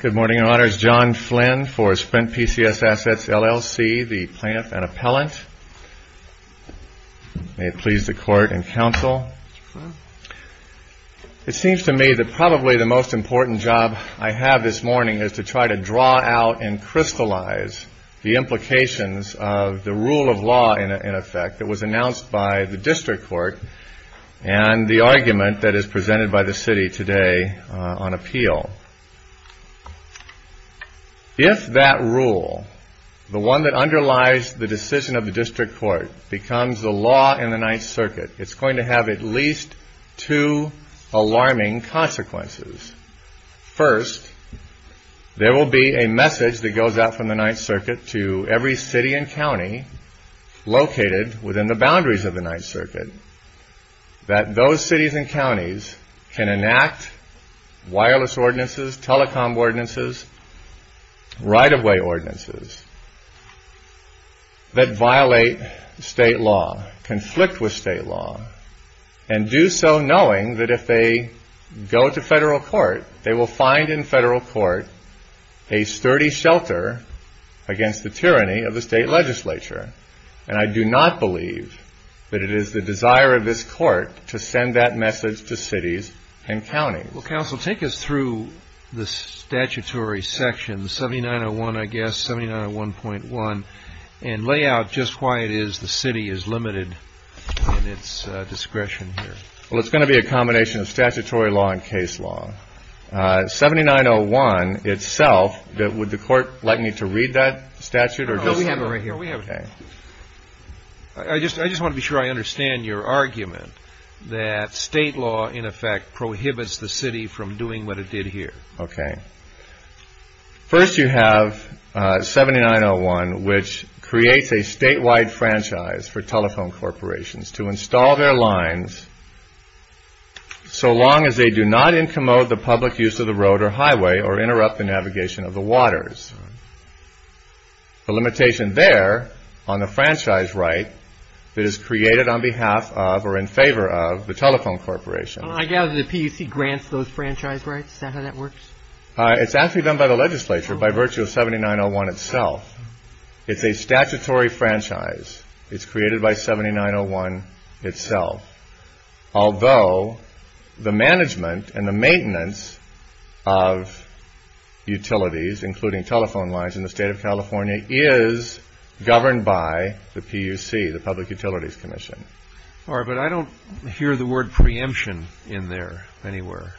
Good morning, Your Honors. John Flynn for SPRINT PCS ASSETS, LLC, the plaintiff and appellant. May it please the Court and Counsel. It seems to me that probably the most important job I have this morning is to try to draw out and crystallize the implications of the rule of law, in effect, that was announced by the District Court and the argument that is presented by the City today on appeal. If that rule, the one that underlies the decision of the District Court, becomes the law in the Ninth Circuit, it's going to have at least two alarming consequences. First, there will be a message that goes out from the Ninth Circuit to every city and county located within the boundaries of the Ninth Circuit that those cities and counties can enact wireless ordinances, telecom ordinances, right-of-way ordinances that violate state law, conflict with state law, and do so knowing that if they go to federal court, they will find in federal court a sturdy shelter against the tyranny of the state legislature. And I do not believe that it is the desire of this Court to send that message to cities and counties. Well, Counsel, take us through the statutory section, 7901, I guess, 7901.1, and lay out just why it is the City is limited in its discretion here. Well, it's going to be a combination of statutory law and case law. 7901 itself, would the Court like me to read that statute? No, we have it right here. I just want to be sure I understand your argument that state law, in effect, prohibits the City from doing what it did here. Okay. First, you have 7901, which creates a statewide franchise for telephone corporations to install their lines so long as they do not incommode the public use of the road or highway or interrupt the navigation of the waters. The limitation there on the franchise right that is created on behalf of or in favor of the telephone corporation. I gather the PUC grants those franchise rights. Is that how that works? It's actually done by the legislature by virtue of 7901 itself. It's a statutory franchise. It's created by 7901 itself. Although the management and the maintenance of utilities, including telephone lines in the State of California, is governed by the PUC, the Public Utilities Commission. All right, but I don't hear the word preemption in there anywhere.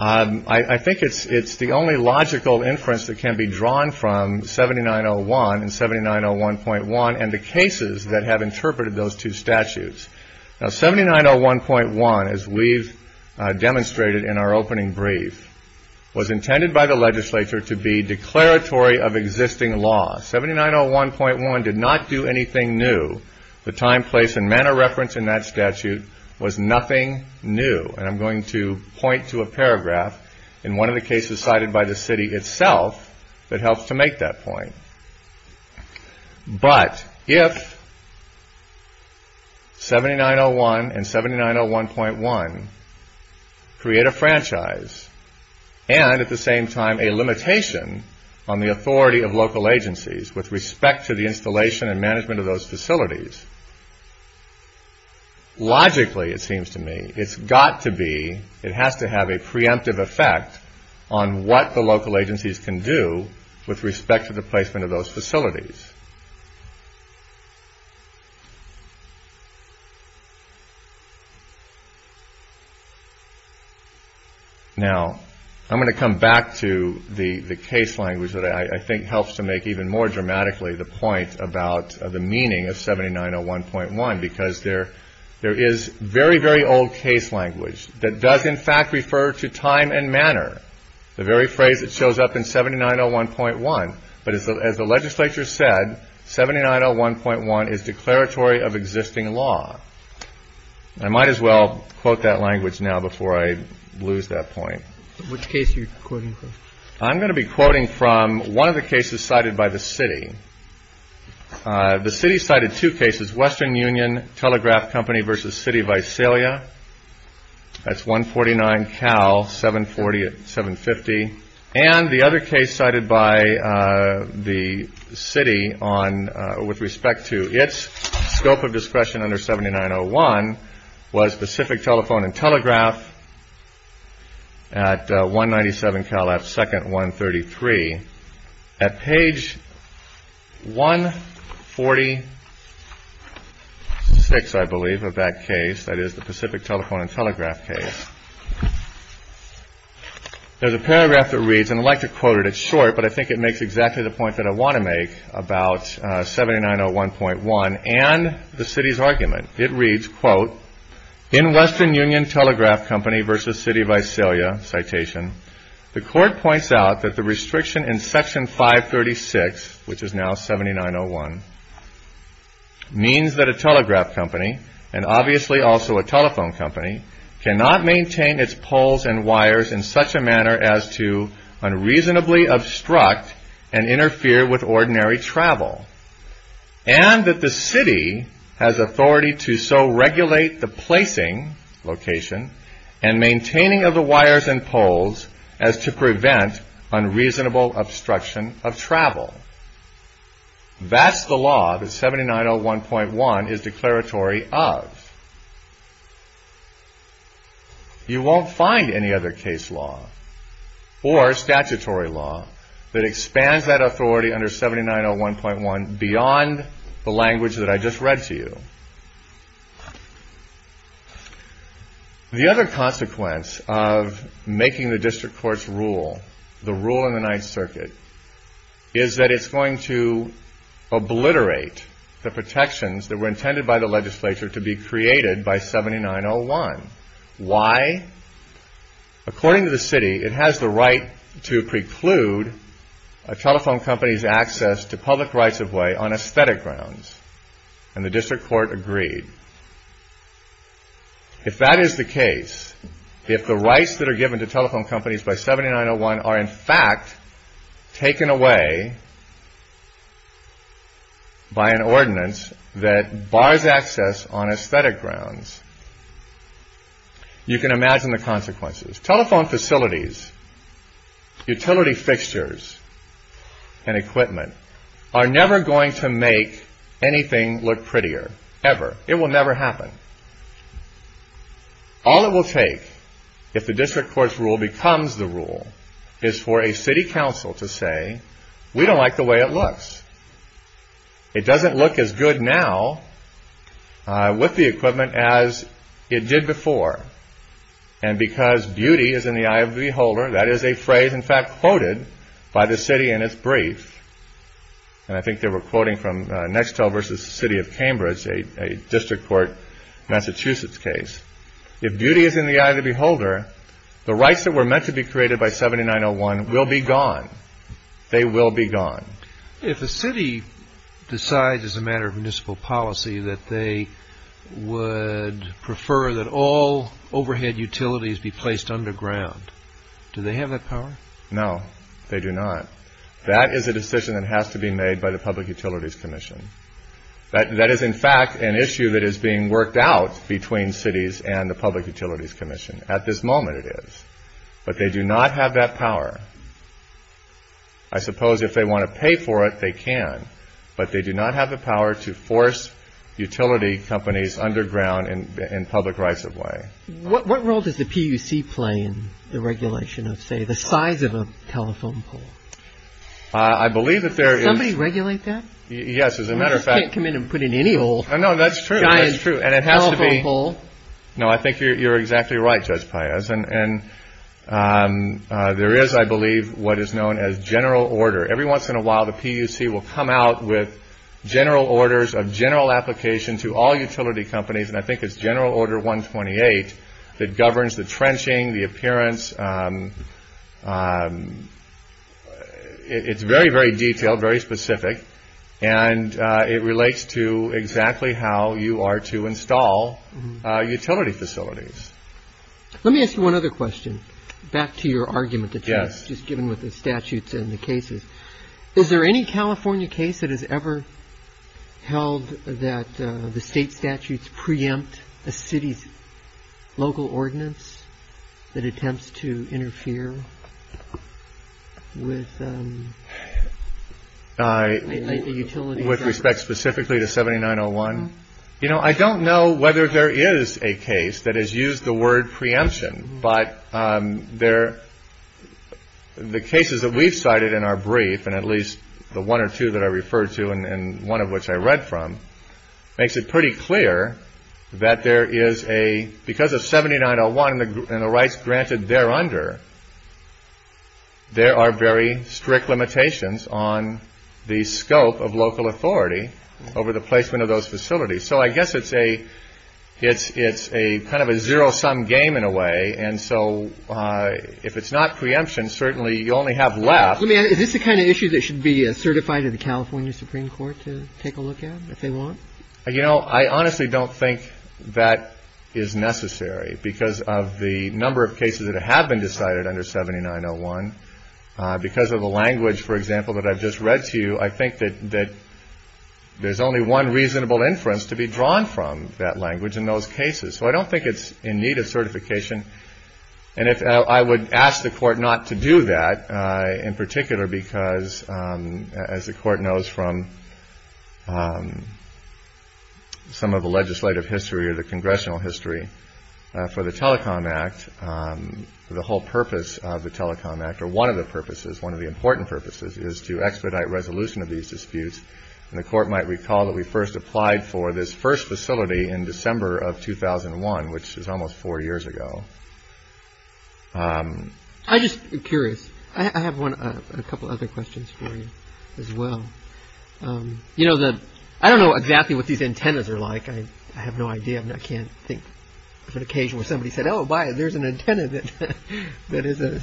I think it's the only logical inference that can be drawn from 7901 and 7901.1 and the cases that have interpreted those two statutes. Now, 7901.1, as we've demonstrated in our opening brief, was intended by the legislature to be declaratory of existing law. 7901.1 did not do anything new. The time, place, and manner referenced in that statute was nothing new. And I'm going to point to a paragraph in one of the cases cited by the City itself that helps to make that point. But if 7901 and 7901.1 create a franchise and at the same time a limitation on the authority of local agencies with respect to the installation and management of those facilities, logically, it seems to me, it's got to be, it has to have a preemptive effect on what the local agencies can do with respect to the placement of those facilities. Now, I'm going to come back to the case language that I think helps to make even more dramatically the point about the meaning of 7901.1 because there is very, very old case language that does, in fact, refer to time and manner, the very phrase that shows up in 7901.1. But as the legislature said, 7901.1 is declaratory of existing law. I might as well quote that language now before I lose that point. Which case are you quoting from? I'm going to be quoting from one of the cases cited by the City. The City cited two cases, Western Union Telegraph Company versus City of Visalia. That's 149 Cal 740, 750. And the other case cited by the City with respect to its scope of discretion under 7901 was Pacific Telephone and Telegraph at 197 Cal F 2nd, 133. At page 146, I believe, of that case, that is the Pacific Telephone and Telegraph case. There's a paragraph that reads, and I'd like to quote it. It's short, but I think it makes exactly the point that I want to make about 7901.1 and the City's argument. It reads, quote, In Western Union Telegraph Company versus City of Visalia, citation, the Court points out that the restriction in Section 536, which is now 7901, means that a telegraph company, and obviously also a telephone company, cannot maintain its poles and wires in such a manner as to unreasonably obstruct and interfere with ordinary travel, and that the City has authority to so regulate the placing, location, and maintaining of the wires and poles as to prevent unreasonable obstruction of travel. That's the law that 7901.1 is declaratory of. You won't find any other case law or statutory law that expands that authority under 7901.1 beyond the language that I just read to you. The other consequence of making the District Court's rule, the rule in the Ninth Circuit, is that it's going to obliterate the protections that were intended by the legislature to be created by 7901. Why? According to the City, it has the right to preclude a telephone company's access to public rights-of-way on aesthetic grounds, and the District Court agreed. If that is the case, if the rights that are given to telephone companies by 7901.1 are in fact taken away by an ordinance that bars access on aesthetic grounds, you can imagine the consequences. Telephone facilities, utility fixtures, and equipment are never going to make anything look prettier, ever. It will never happen. All it will take, if the District Court's rule becomes the rule, is for a city council to say, we don't like the way it looks. It doesn't look as good now with the equipment as it did before. And because beauty is in the eye of the beholder, that is a phrase in fact quoted by the City in its brief, and I think they were quoting from Nextel v. City of Cambridge, a District Court Massachusetts case. If beauty is in the eye of the beholder, the rights that were meant to be created by 7901.1 will be gone. They will be gone. If a city decides as a matter of municipal policy that they would prefer that all overhead utilities be placed underground, do they have that power? No, they do not. That is a decision that has to be made by the Public Utilities Commission. That is in fact an issue that is being worked out between cities and the Public Utilities Commission. At this moment, it is. But they do not have that power. I suppose if they want to pay for it, they can, but they do not have the power to force utility companies underground in public rights of way. What role does the PUC play in the regulation of, say, the size of a telephone pole? I believe that there is... Does somebody regulate that? Yes, as a matter of fact... You can't come in and put in any old giant telephone pole. No, that is true. And it has to be... No, I think you are exactly right, Judge Pius. And there is, I believe, what is known as general order. Every once in a while, the PUC will come out with general orders of general application to all utility companies, and I think it is general order 128 that governs the trenching, the appearance. It is very, very detailed, very specific, and it relates to exactly how you are to install utility facilities. Let me ask you one other question. Back to your argument that was just given with the statutes and the cases. Is there any California case that has ever held that the state statutes preempt a city's local ordinance that attempts to interfere with a utility? With respect specifically to 7901? You know, I don't know whether there is a case that has used the word preemption, but the cases that we have cited in our brief, and at least the one or two that I referred to and one of which I read from, makes it pretty clear that there is a... Because of 7901 and the rights granted there under, there are very strict limitations on the scope of local authority over the placement of those facilities. So I guess it's a kind of a zero-sum game in a way, and so if it's not preemption, certainly you only have left... Let me ask, is this the kind of issue that should be certified in the California Supreme Court to take a look at if they want? You know, I honestly don't think that is necessary because of the number of cases that have been decided under 7901. Because of the language, for example, that I've just read to you, I think that there's only one reasonable inference to be drawn from that language in those cases. So I don't think it's in need of certification. And I would ask the Court not to do that in particular because, as the Court knows from some of the legislative history or the congressional history for the Telecom Act, the whole purpose of the Telecom Act, or one of the purposes, one of the important purposes is to expedite resolution of these disputes. And the Court might recall that we first applied for this first facility in December of 2001, which is almost four years ago. I'm just curious. I have a couple other questions for you as well. You know, I don't know exactly what these antennas are like. I have no idea. I can't think of an occasion where somebody said, Oh, my, there's an antenna that that is a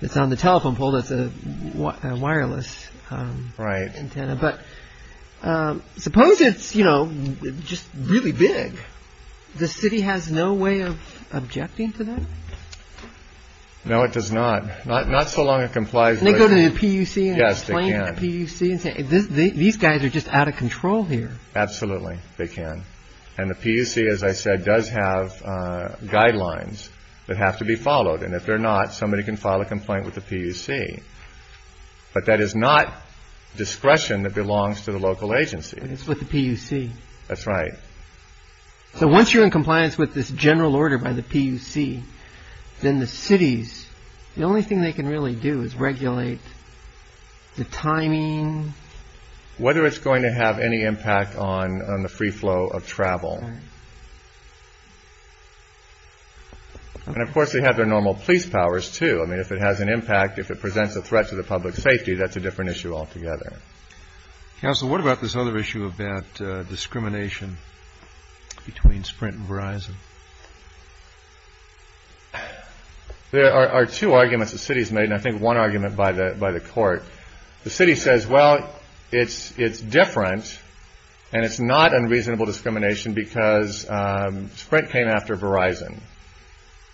it's on the telephone pole. That's a wireless. Right. But suppose it's, you know, just really big. The city has no way of objecting to that. No, it does not. Not so long. It complies. They go to the PUC. Yes, they can. These guys are just out of control here. Absolutely they can. And the PUC, as I said, does have guidelines that have to be followed. And if they're not, somebody can file a complaint with the PUC. But that is not discretion that belongs to the local agency. It's with the PUC. That's right. So once you're in compliance with this general order by the PUC, then the cities, whether it's going to have any impact on the free flow of travel. And of course, they have their normal police powers, too. I mean, if it has an impact, if it presents a threat to the public safety, that's a different issue altogether. So what about this other issue of that discrimination between Sprint and Verizon? There are two arguments the city's made, and I think one argument by the by the court. The city says, well, it's different, and it's not unreasonable discrimination because Sprint came after Verizon.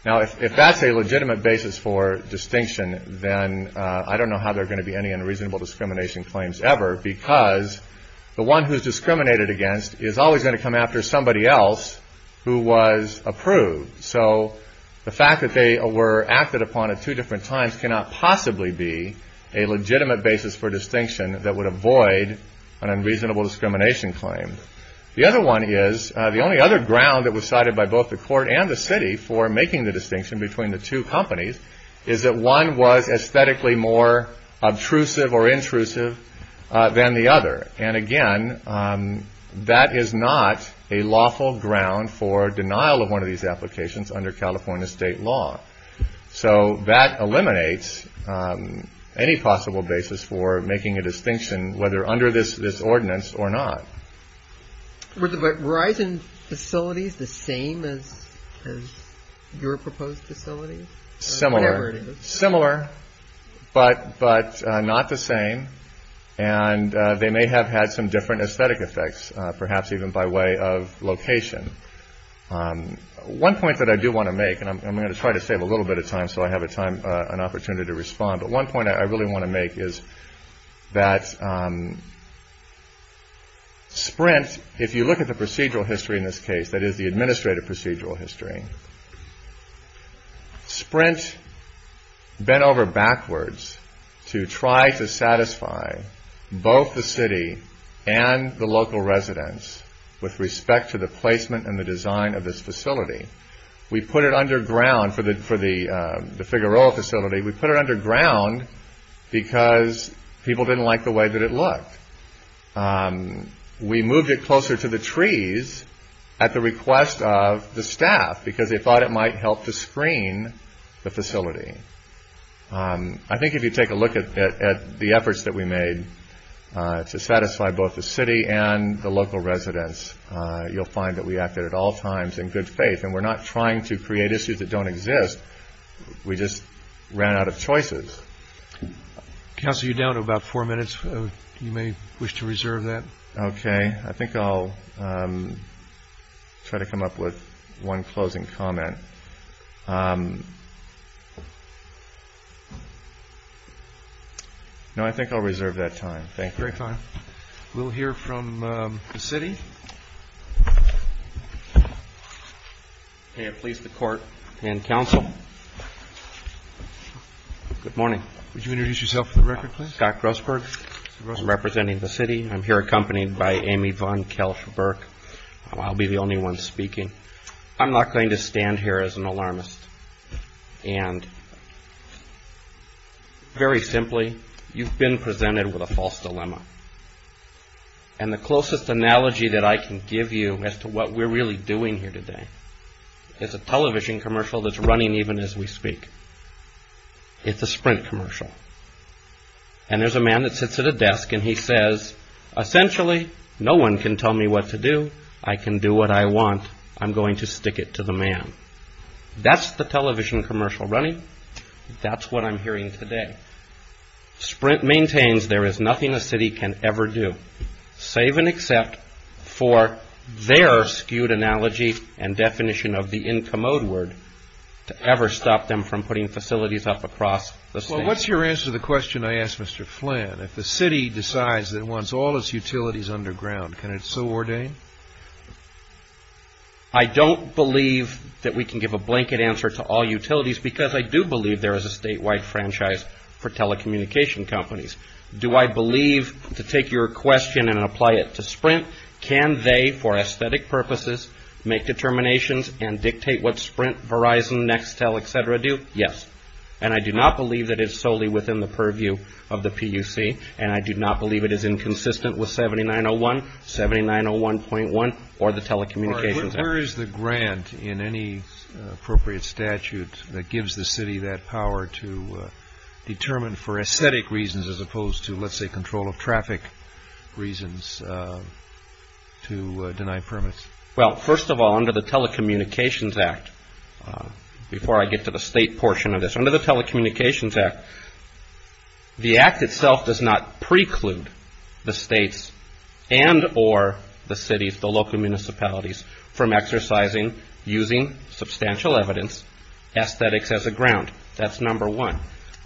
Now, if that's a legitimate basis for distinction, then I don't know how there are going to be any unreasonable discrimination claims ever. Because the one who's discriminated against is always going to come after somebody else who was approved. So the fact that they were acted upon at two different times cannot possibly be a legitimate basis for distinction that would avoid an unreasonable discrimination claim. The other one is the only other ground that was cited by both the court and the city for making the distinction between the two companies is that one was aesthetically more obtrusive or intrusive than the other. And again, that is not a lawful ground for denial of one of these applications under California state law. So that eliminates any possible basis for making a distinction, whether under this ordinance or not. Were the Verizon facilities the same as your proposed facilities? Similar, similar, but not the same. And they may have had some different aesthetic effects, perhaps even by way of location. One point that I do want to make, and I'm going to try to save a little bit of time so I have a time, an opportunity to respond. But one point I really want to make is that Sprint, if you look at the procedural history in this case, that is the administrative procedural history, Sprint bent over backwards to try to satisfy both the city and the local residents with respect to the placement and the design of this facility. We put it underground for the Figueroa facility. We put it underground because people didn't like the way that it looked. We moved it closer to the trees at the request of the staff because they thought it might help to screen the facility. I think if you take a look at the efforts that we made to satisfy both the city and the local residents, you'll find that we acted at all times in good faith. And we're not trying to create issues that don't exist. We just ran out of choices. Counsel, you're down to about four minutes. You may wish to reserve that. Okay. I think I'll try to come up with one closing comment. No, I think I'll reserve that time. Thank you. Great time. We'll hear from the city. May it please the court and counsel. Good morning. Would you introduce yourself for the record, please? Scott Grossberg. I'm representing the city. I'm here accompanied by Amy Von Kelch Burke. I'll be the only one speaking. I'm not going to stand here as an alarmist. And very simply, you've been presented with a false dilemma. And the closest analogy that I can give you as to what we're really doing here today is a television commercial that's running even as we speak. It's a Sprint commercial. And there's a man that sits at a desk and he says, essentially, no one can tell me what to do. I can do what I want. I'm going to stick it to the man. That's the television commercial running. That's what I'm hearing today. Sprint maintains there is nothing a city can ever do, save and except for their skewed analogy and definition of the incommode word, to ever stop them from putting facilities up across the state. Well, what's your answer to the question I asked Mr. Flynn? If the city decides it wants all its utilities underground, can it so ordain? I don't believe that we can give a blanket answer to all utilities because I do believe there is a statewide franchise for telecommunication companies. Do I believe, to take your question and apply it to Sprint, can they, for aesthetic purposes, make determinations and dictate what Sprint, Verizon, Nextel, et cetera, do? Yes. And I do not believe that it's solely within the purview of the PUC, and I do not believe it is inconsistent with 7901, 7901.1, or the telecommunications act. Where is the grant in any appropriate statute that gives the city that power to determine for aesthetic reasons as opposed to, let's say, control of traffic reasons to deny permits? Well, first of all, under the telecommunications act, before I get to the state portion of this, under the telecommunications act, the act itself does not preclude the states and or the cities, the local municipalities, from exercising, using substantial evidence, aesthetics as a ground. That's number one.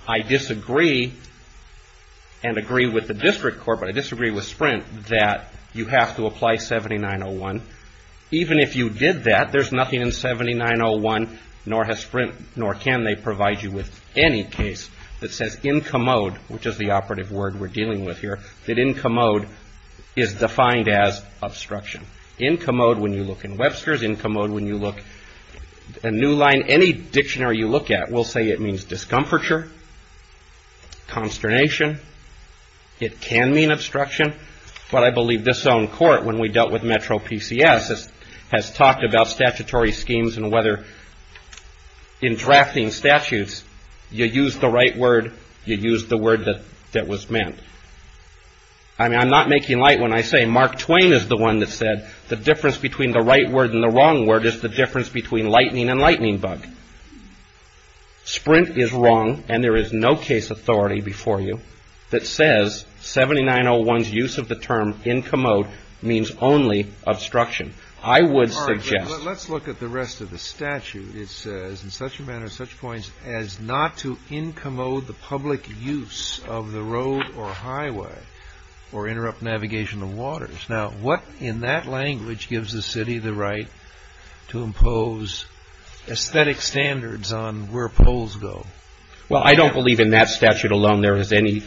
I disagree and agree with the district court, but I disagree with Sprint, that you have to apply 7901. Even if you did that, there's nothing in 7901, nor has Sprint, nor can they provide you with any case that says in commode, which is the operative word we're dealing with here, that in commode is defined as obstruction. In commode, when you look in Webster's, in commode, when you look in New Line, any dictionary you look at, will say it means discomfiture, consternation. It can mean obstruction, but I believe this own court, when we dealt with Metro PCS, has talked about statutory schemes and whether in drafting statutes, you use the right word, you use the word that was meant. I'm not making light when I say Mark Twain is the one that said, the difference between the right word and the wrong word is the difference between lightning and lightning bug. Sprint is wrong, and there is no case authority before you that says 7901's use of the term in commode means only obstruction. I would suggest. Let's look at the rest of the statute. It says, in such a manner, such points, as not to in commode the public use of the road or highway or interrupt navigation of waters. Now, what in that language gives the city the right to impose aesthetic standards on where poles go? Well, I don't believe in that statute alone there is any,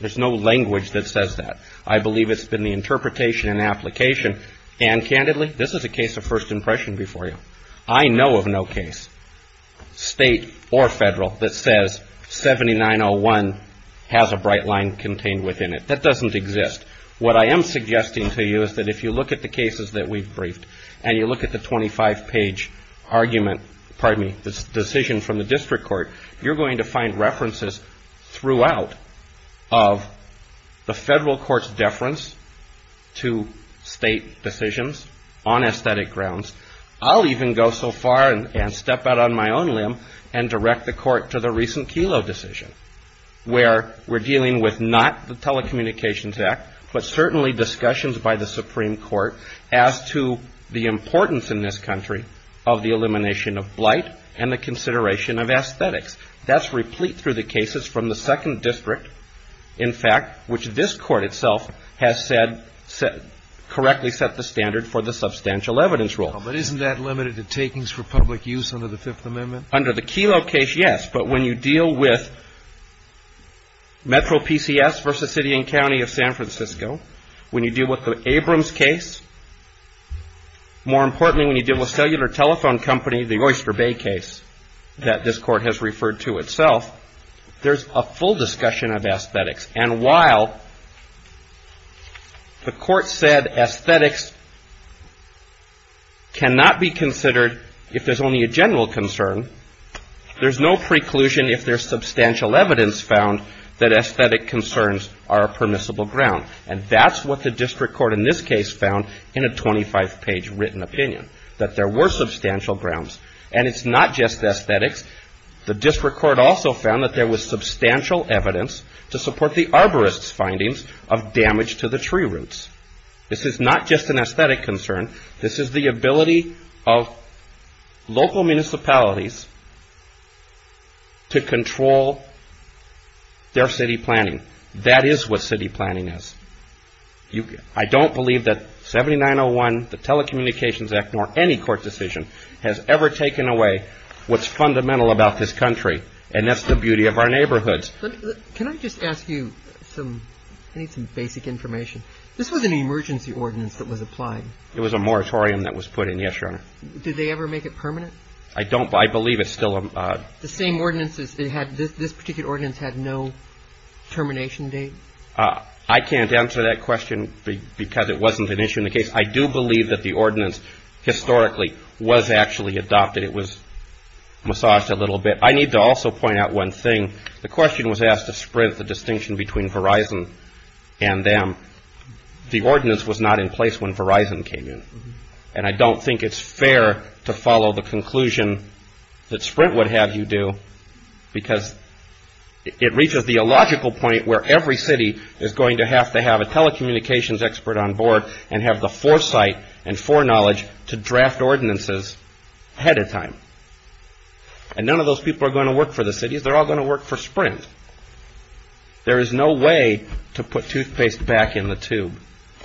there's no language that says that. I believe it's been the interpretation and application, and candidly, this is a case of first impression before you. I know of no case, state or federal, that says 7901 has a bright line contained within it. That doesn't exist. What I am suggesting to you is that if you look at the cases that we've briefed and you look at the 25-page argument, pardon me, this decision from the district court, you're going to find references throughout of the federal court's deference to state decisions on aesthetic grounds. I'll even go so far and step out on my own limb and direct the court to the recent Kelo decision, where we're dealing with not the Telecommunications Act, but certainly discussions by the Supreme Court as to the importance in this country of the elimination of blight and the consideration of aesthetics. That's replete through the cases from the second district, in fact, which this court itself has said, correctly set the standard for the substantial evidence rule. But isn't that limited to takings for public use under the Fifth Amendment? Under the Kelo case, yes. But when you deal with Metro PCS versus city and county of San Francisco, when you deal with the Abrams case, more importantly when you deal with cellular telephone company, the Oyster Bay case that this court has referred to itself, there's a full discussion of aesthetics. And while the court said aesthetics cannot be considered if there's only a general concern, there's no preclusion if there's substantial evidence found that aesthetic concerns are a permissible ground. And that's what the district court in this case found in a 25-page written opinion, that there were substantial grounds. And it's not just aesthetics. The district court also found that there was substantial evidence to support the arborist's findings of damage to the tree roots. This is not just an aesthetic concern. This is the ability of local municipalities to control their city planning. That is what city planning is. I don't believe that 7901, the Telecommunications Act, nor any court decision has ever taken away what's fundamental about this country, and that's the beauty of our neighborhoods. Can I just ask you some basic information? This was an emergency ordinance that was applied. It was a moratorium that was put in. Yes, Your Honor. Did they ever make it permanent? I don't. I believe it's still a... The same ordinances that had this particular ordinance had no termination date? I can't answer that question because it wasn't an issue in the case. I do believe that the ordinance historically was actually adopted. It was massaged a little bit. I need to also point out one thing. The question was asked to spread the distinction between Verizon and them. The ordinance was not in place when Verizon came in, and I don't think it's fair to follow the conclusion that Sprint would have you do because it reaches the illogical point where every city is going to have to have a telecommunications expert on board and have the foresight and foreknowledge to draft ordinances ahead of time. And none of those people are going to work for the cities. They're all going to work for Sprint. There is no way to put toothpaste back in the tube.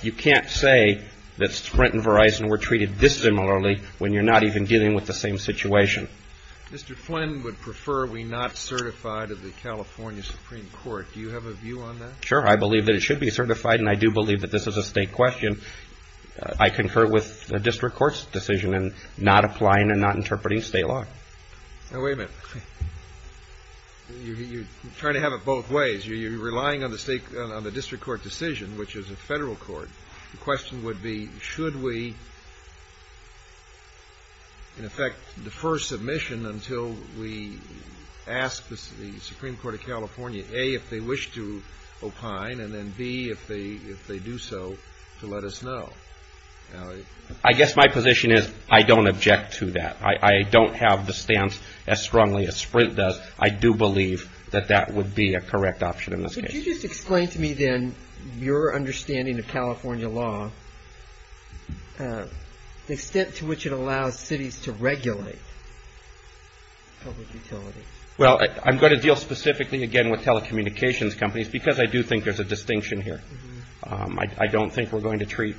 You can't say that Sprint and Verizon were treated dissimilarly when you're not even dealing with the same situation. Mr. Flynn would prefer we not certify to the California Supreme Court. Do you have a view on that? Sure. I believe that it should be certified, and I do believe that this is a state question. I concur with the district court's decision in not applying and not interpreting state law. Now, wait a minute. You're trying to have it both ways. You're relying on the district court decision, which is a federal court. The question would be should we, in effect, defer submission until we ask the Supreme Court of California, A, if they wish to opine, and then, B, if they do so, to let us know. I guess my position is I don't object to that. I don't have the stance as strongly as Sprint does. I do believe that that would be a correct option in this case. Could you just explain to me, then, your understanding of California law, the extent to which it allows cities to regulate public utilities? Well, I'm going to deal specifically, again, with telecommunications companies because I do think there's a distinction here. I don't think we're going to treat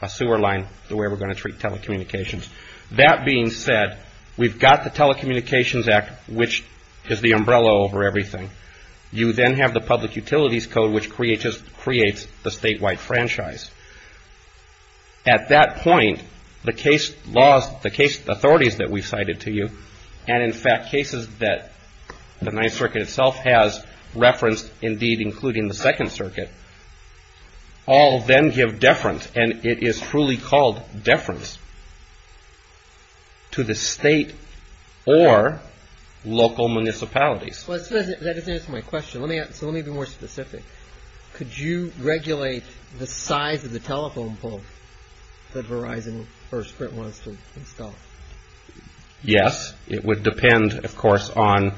a sewer line the way we're going to treat telecommunications. That being said, we've got the Telecommunications Act, which is the umbrella over everything. You then have the Public Utilities Code, which creates the statewide franchise. At that point, the case laws, the case authorities that we've cited to you, and, in fact, cases that the Ninth Circuit itself has referenced, indeed, including the Second Circuit, all then give deference, and it is truly called deference, to the state or local municipalities. That doesn't answer my question. Let me be more specific. Could you regulate the size of the telephone pole that Verizon or Sprint wants to install? Yes. It would depend, of course, on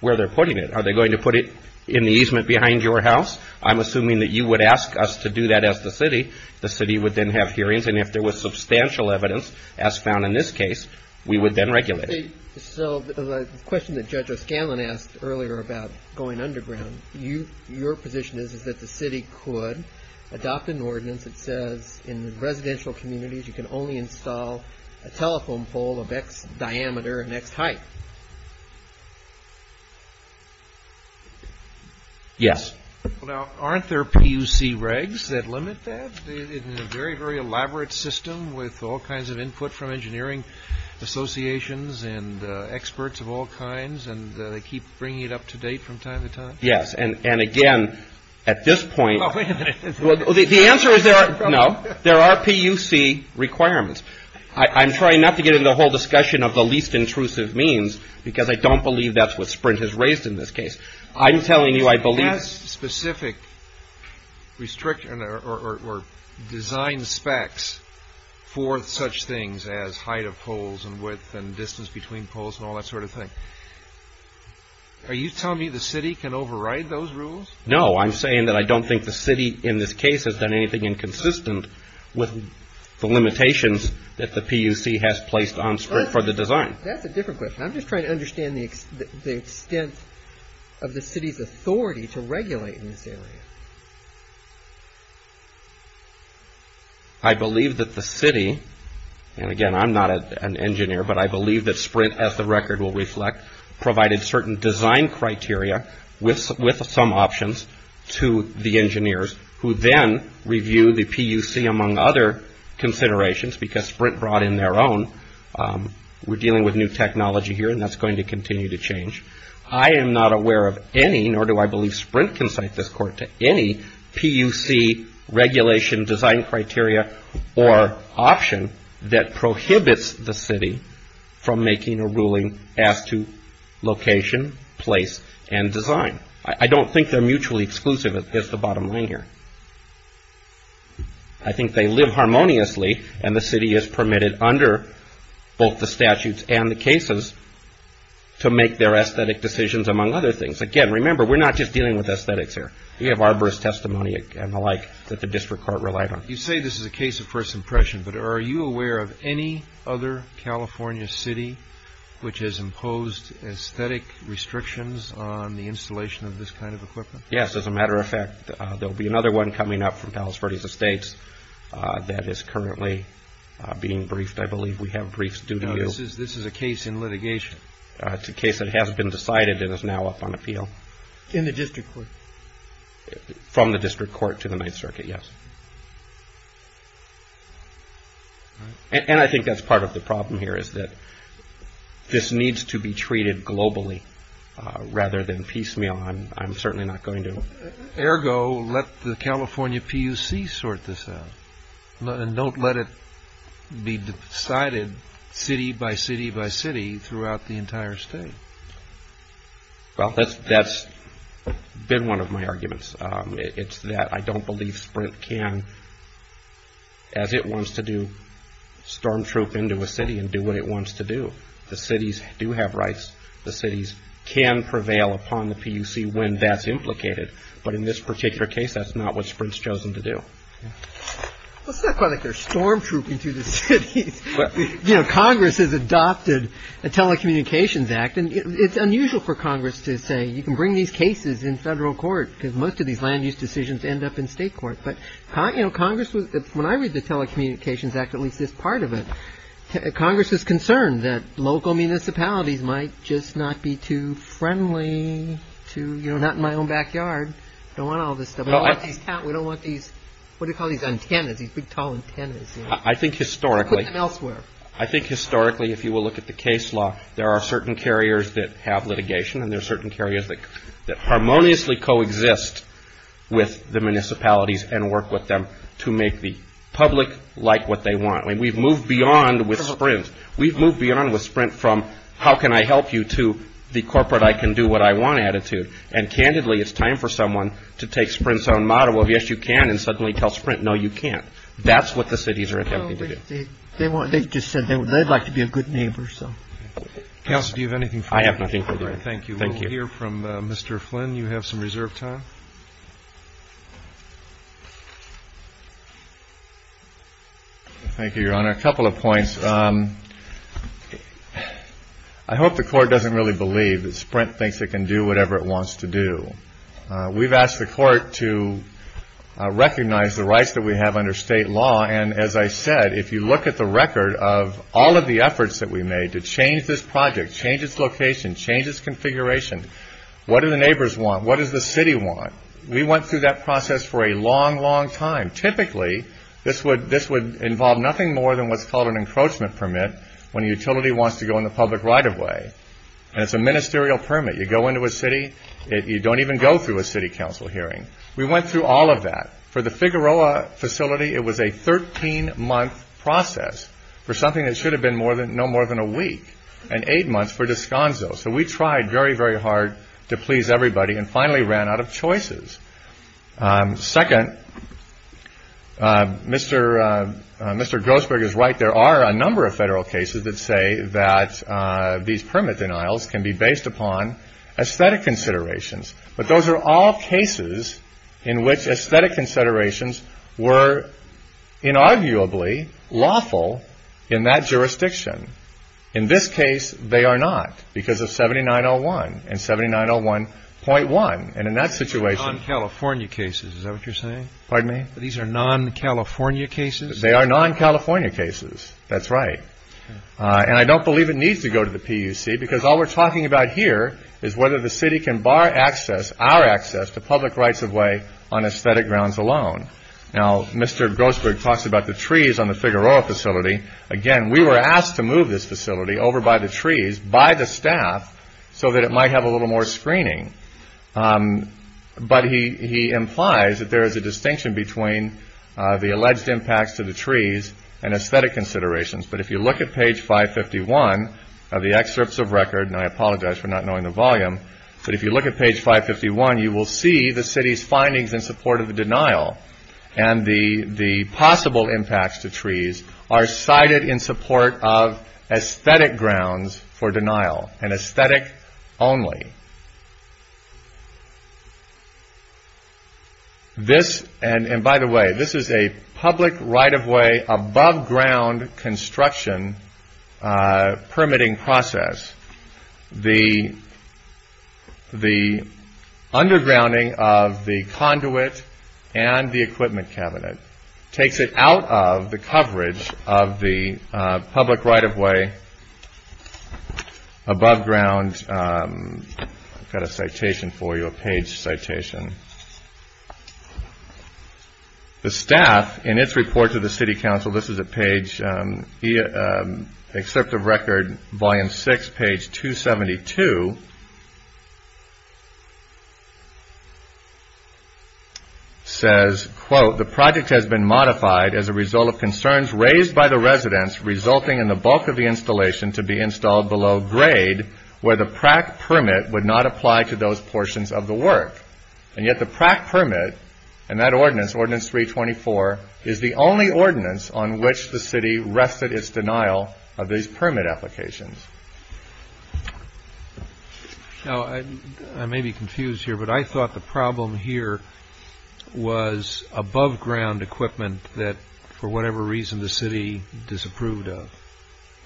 where they're putting it. Are they going to put it in the easement behind your house? I'm assuming that you would ask us to do that as the city. The city would then have hearings, and if there was substantial evidence, as found in this case, we would then regulate it. The question that Judge O'Scanlan asked earlier about going underground, your position is that the city could adopt an ordinance that says in residential communities you can only install a telephone pole of X diameter and X height. Yes. Now, aren't there PUC regs that limit that in a very, very elaborate system with all kinds of input from engineering associations and experts of all kinds, and they keep bringing it up to date from time to time? Yes, and, again, at this point, the answer is no. There are PUC requirements. I'm trying not to get into the whole discussion of the least intrusive means because I don't believe that's what Sprint has raised in this case. I'm telling you I believe... It has specific design specs for such things as height of poles and width and distance between poles and all that sort of thing. Are you telling me the city can override those rules? No, I'm saying that I don't think the city in this case has done anything inconsistent with the limitations that the PUC has placed on Sprint for the design. That's a different question. I'm just trying to understand the extent of the city's authority to regulate in this area. I believe that the city, and, again, I'm not an engineer, but I believe that Sprint, as the record will reflect, provided certain design criteria with some options to the engineers who then review the PUC among other considerations because Sprint brought in their own. We're dealing with new technology here, and that's going to continue to change. I am not aware of any, nor do I believe Sprint can cite this court to any, regulation, design criteria, or option that prohibits the city from making a ruling as to location, place, and design. I don't think they're mutually exclusive is the bottom line here. I think they live harmoniously, and the city is permitted under both the statutes and the cases to make their aesthetic decisions among other things. Again, remember, we're not just dealing with aesthetics here. We have arborist testimony and the like that the district court relied on. You say this is a case of first impression, but are you aware of any other California city which has imposed aesthetic restrictions on the installation of this kind of equipment? Yes. As a matter of fact, there will be another one coming up from Palos Verdes Estates that is currently being briefed. I believe we have briefs due to you. No, this is a case in litigation. It's a case that has been decided and is now up on appeal. In the district court? From the district court to the Ninth Circuit, yes. And I think that's part of the problem here, is that this needs to be treated globally rather than piecemeal. I'm certainly not going to. Ergo, let the California PUC sort this out, and don't let it be decided city by city by city throughout the entire state. Well, that's been one of my arguments. It's that I don't believe SPRINT can, as it wants to do, stormtroop into a city and do what it wants to do. The cities do have rights. The cities can prevail upon the PUC when that's implicated. But in this particular case, that's not what SPRINT's chosen to do. Well, it's not quite like they're stormtrooping through the cities. Congress has adopted a Telecommunications Act, and it's unusual for Congress to say, you can bring these cases in federal court because most of these land use decisions end up in state court. But Congress, when I read the Telecommunications Act, at least this part of it, Congress is concerned that local municipalities might just not be too friendly, not in my own backyard. I don't want all this stuff. We don't want these, what do you call these, antennas, these big, tall antennas. Put them elsewhere. I think historically, if you will look at the case law, there are certain carriers that have litigation and there are certain carriers that harmoniously coexist with the municipalities and work with them to make the public like what they want. I mean, we've moved beyond with SPRINT. We've moved beyond with SPRINT from how can I help you to the corporate I can do what I want attitude. And candidly, it's time for someone to take SPRINT's own motto of, yes, you can, and suddenly tell SPRINT, no, you can't. That's what the cities are attempting to do. They just said they'd like to be a good neighbor. Counsel, do you have anything further? I have nothing further. Thank you. We'll hear from Mr. Flynn. You have some reserved time. Thank you, Your Honor. A couple of points. I hope the Court doesn't really believe that SPRINT thinks it can do whatever it wants to do. We've asked the Court to recognize the rights that we have under state law. And as I said, if you look at the record of all of the efforts that we made to change this project, change its location, change its configuration, what do the neighbors want? What does the city want? We went through that process for a long, long time. Typically, this would involve nothing more than what's called an encroachment permit when a utility wants to go on the public right-of-way. And it's a ministerial permit. You go into a city. You don't even go through a city council hearing. We went through all of that. For the Figueroa facility, it was a 13-month process for something that should have been no more than a week and eight months for Descanso. So we tried very, very hard to please everybody and finally ran out of choices. Second, Mr. Grossberg is right. There are a number of federal cases that say that these permit denials can be based upon aesthetic considerations. But those are all cases in which aesthetic considerations were inarguably lawful in that jurisdiction. In this case, they are not because of 7901 and 7901.1. And in that situation ñ These are non-California cases. Is that what you're saying? Pardon me? These are non-California cases? They are non-California cases. That's right. And I don't believe it needs to go to the PUC because all we're talking about here is whether the city can bar our access to public rights-of-way on aesthetic grounds alone. Now, Mr. Grossberg talks about the trees on the Figueroa facility. Again, we were asked to move this facility over by the trees, by the staff, so that it might have a little more screening. But he implies that there is a distinction between the alleged impacts to the trees and aesthetic considerations. But if you look at page 551 of the excerpts of record, and I apologize for not knowing the volume, but if you look at page 551, you will see the city's findings in support of the denial and the possible impacts to trees are cited in support of aesthetic grounds for denial, and aesthetic only. This, and by the way, this is a public right-of-way above-ground construction permitting process. The undergrounding of the conduit and the equipment cabinet takes it out of the coverage of the public right-of-way above ground. I've got a citation for you, a page citation. The staff, in its report to the city council, this is at page, excerpt of record, volume 6, page 272, says, quote, the project has been modified as a result of concerns raised by the residents resulting in the bulk of the installation to be installed below grade, where the prac permit would not apply to those portions of the work. And yet the prac permit, and that ordinance, Ordinance 324, is the only ordinance on which the city rested its denial of these permit applications. Now, I may be confused here, but I thought the problem here was above-ground equipment that, for whatever reason, the city disapproved of.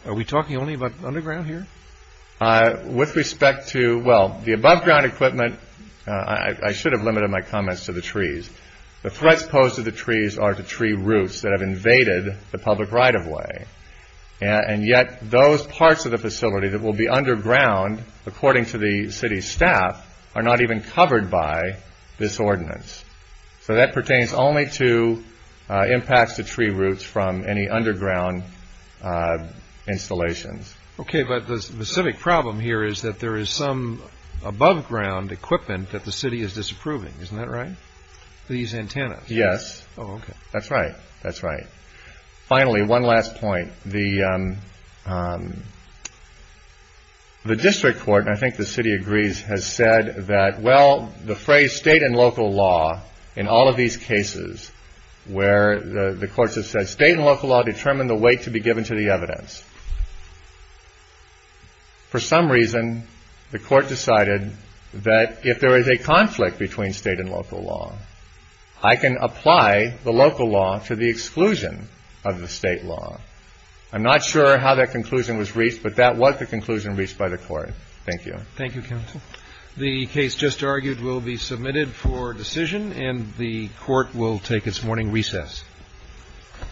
Are we talking only about underground here? With respect to, well, the above-ground equipment, I should have limited my comments to the trees. The threats posed to the trees are to tree roots that have invaded the public right-of-way. And yet those parts of the facility that will be underground, according to the city staff, are not even covered by this ordinance. So that pertains only to impacts to tree roots from any underground installations. Okay, but the specific problem here is that there is some above-ground equipment that the city is disapproving. Isn't that right? These antennas. Yes. That's right. That's right. Finally, one last point. The district court, and I think the city agrees, has said that, well, the phrase state and local law in all of these cases where the courts have said state and local law determine the weight to be given to the evidence. For some reason, the court decided that if there is a conflict between state and local law, I can apply the local law to the exclusion of the state law. I'm not sure how that conclusion was reached, but that was the conclusion reached by the court. Thank you. Thank you, counsel. The case just argued will be submitted for decision, and the court will take its morning recess.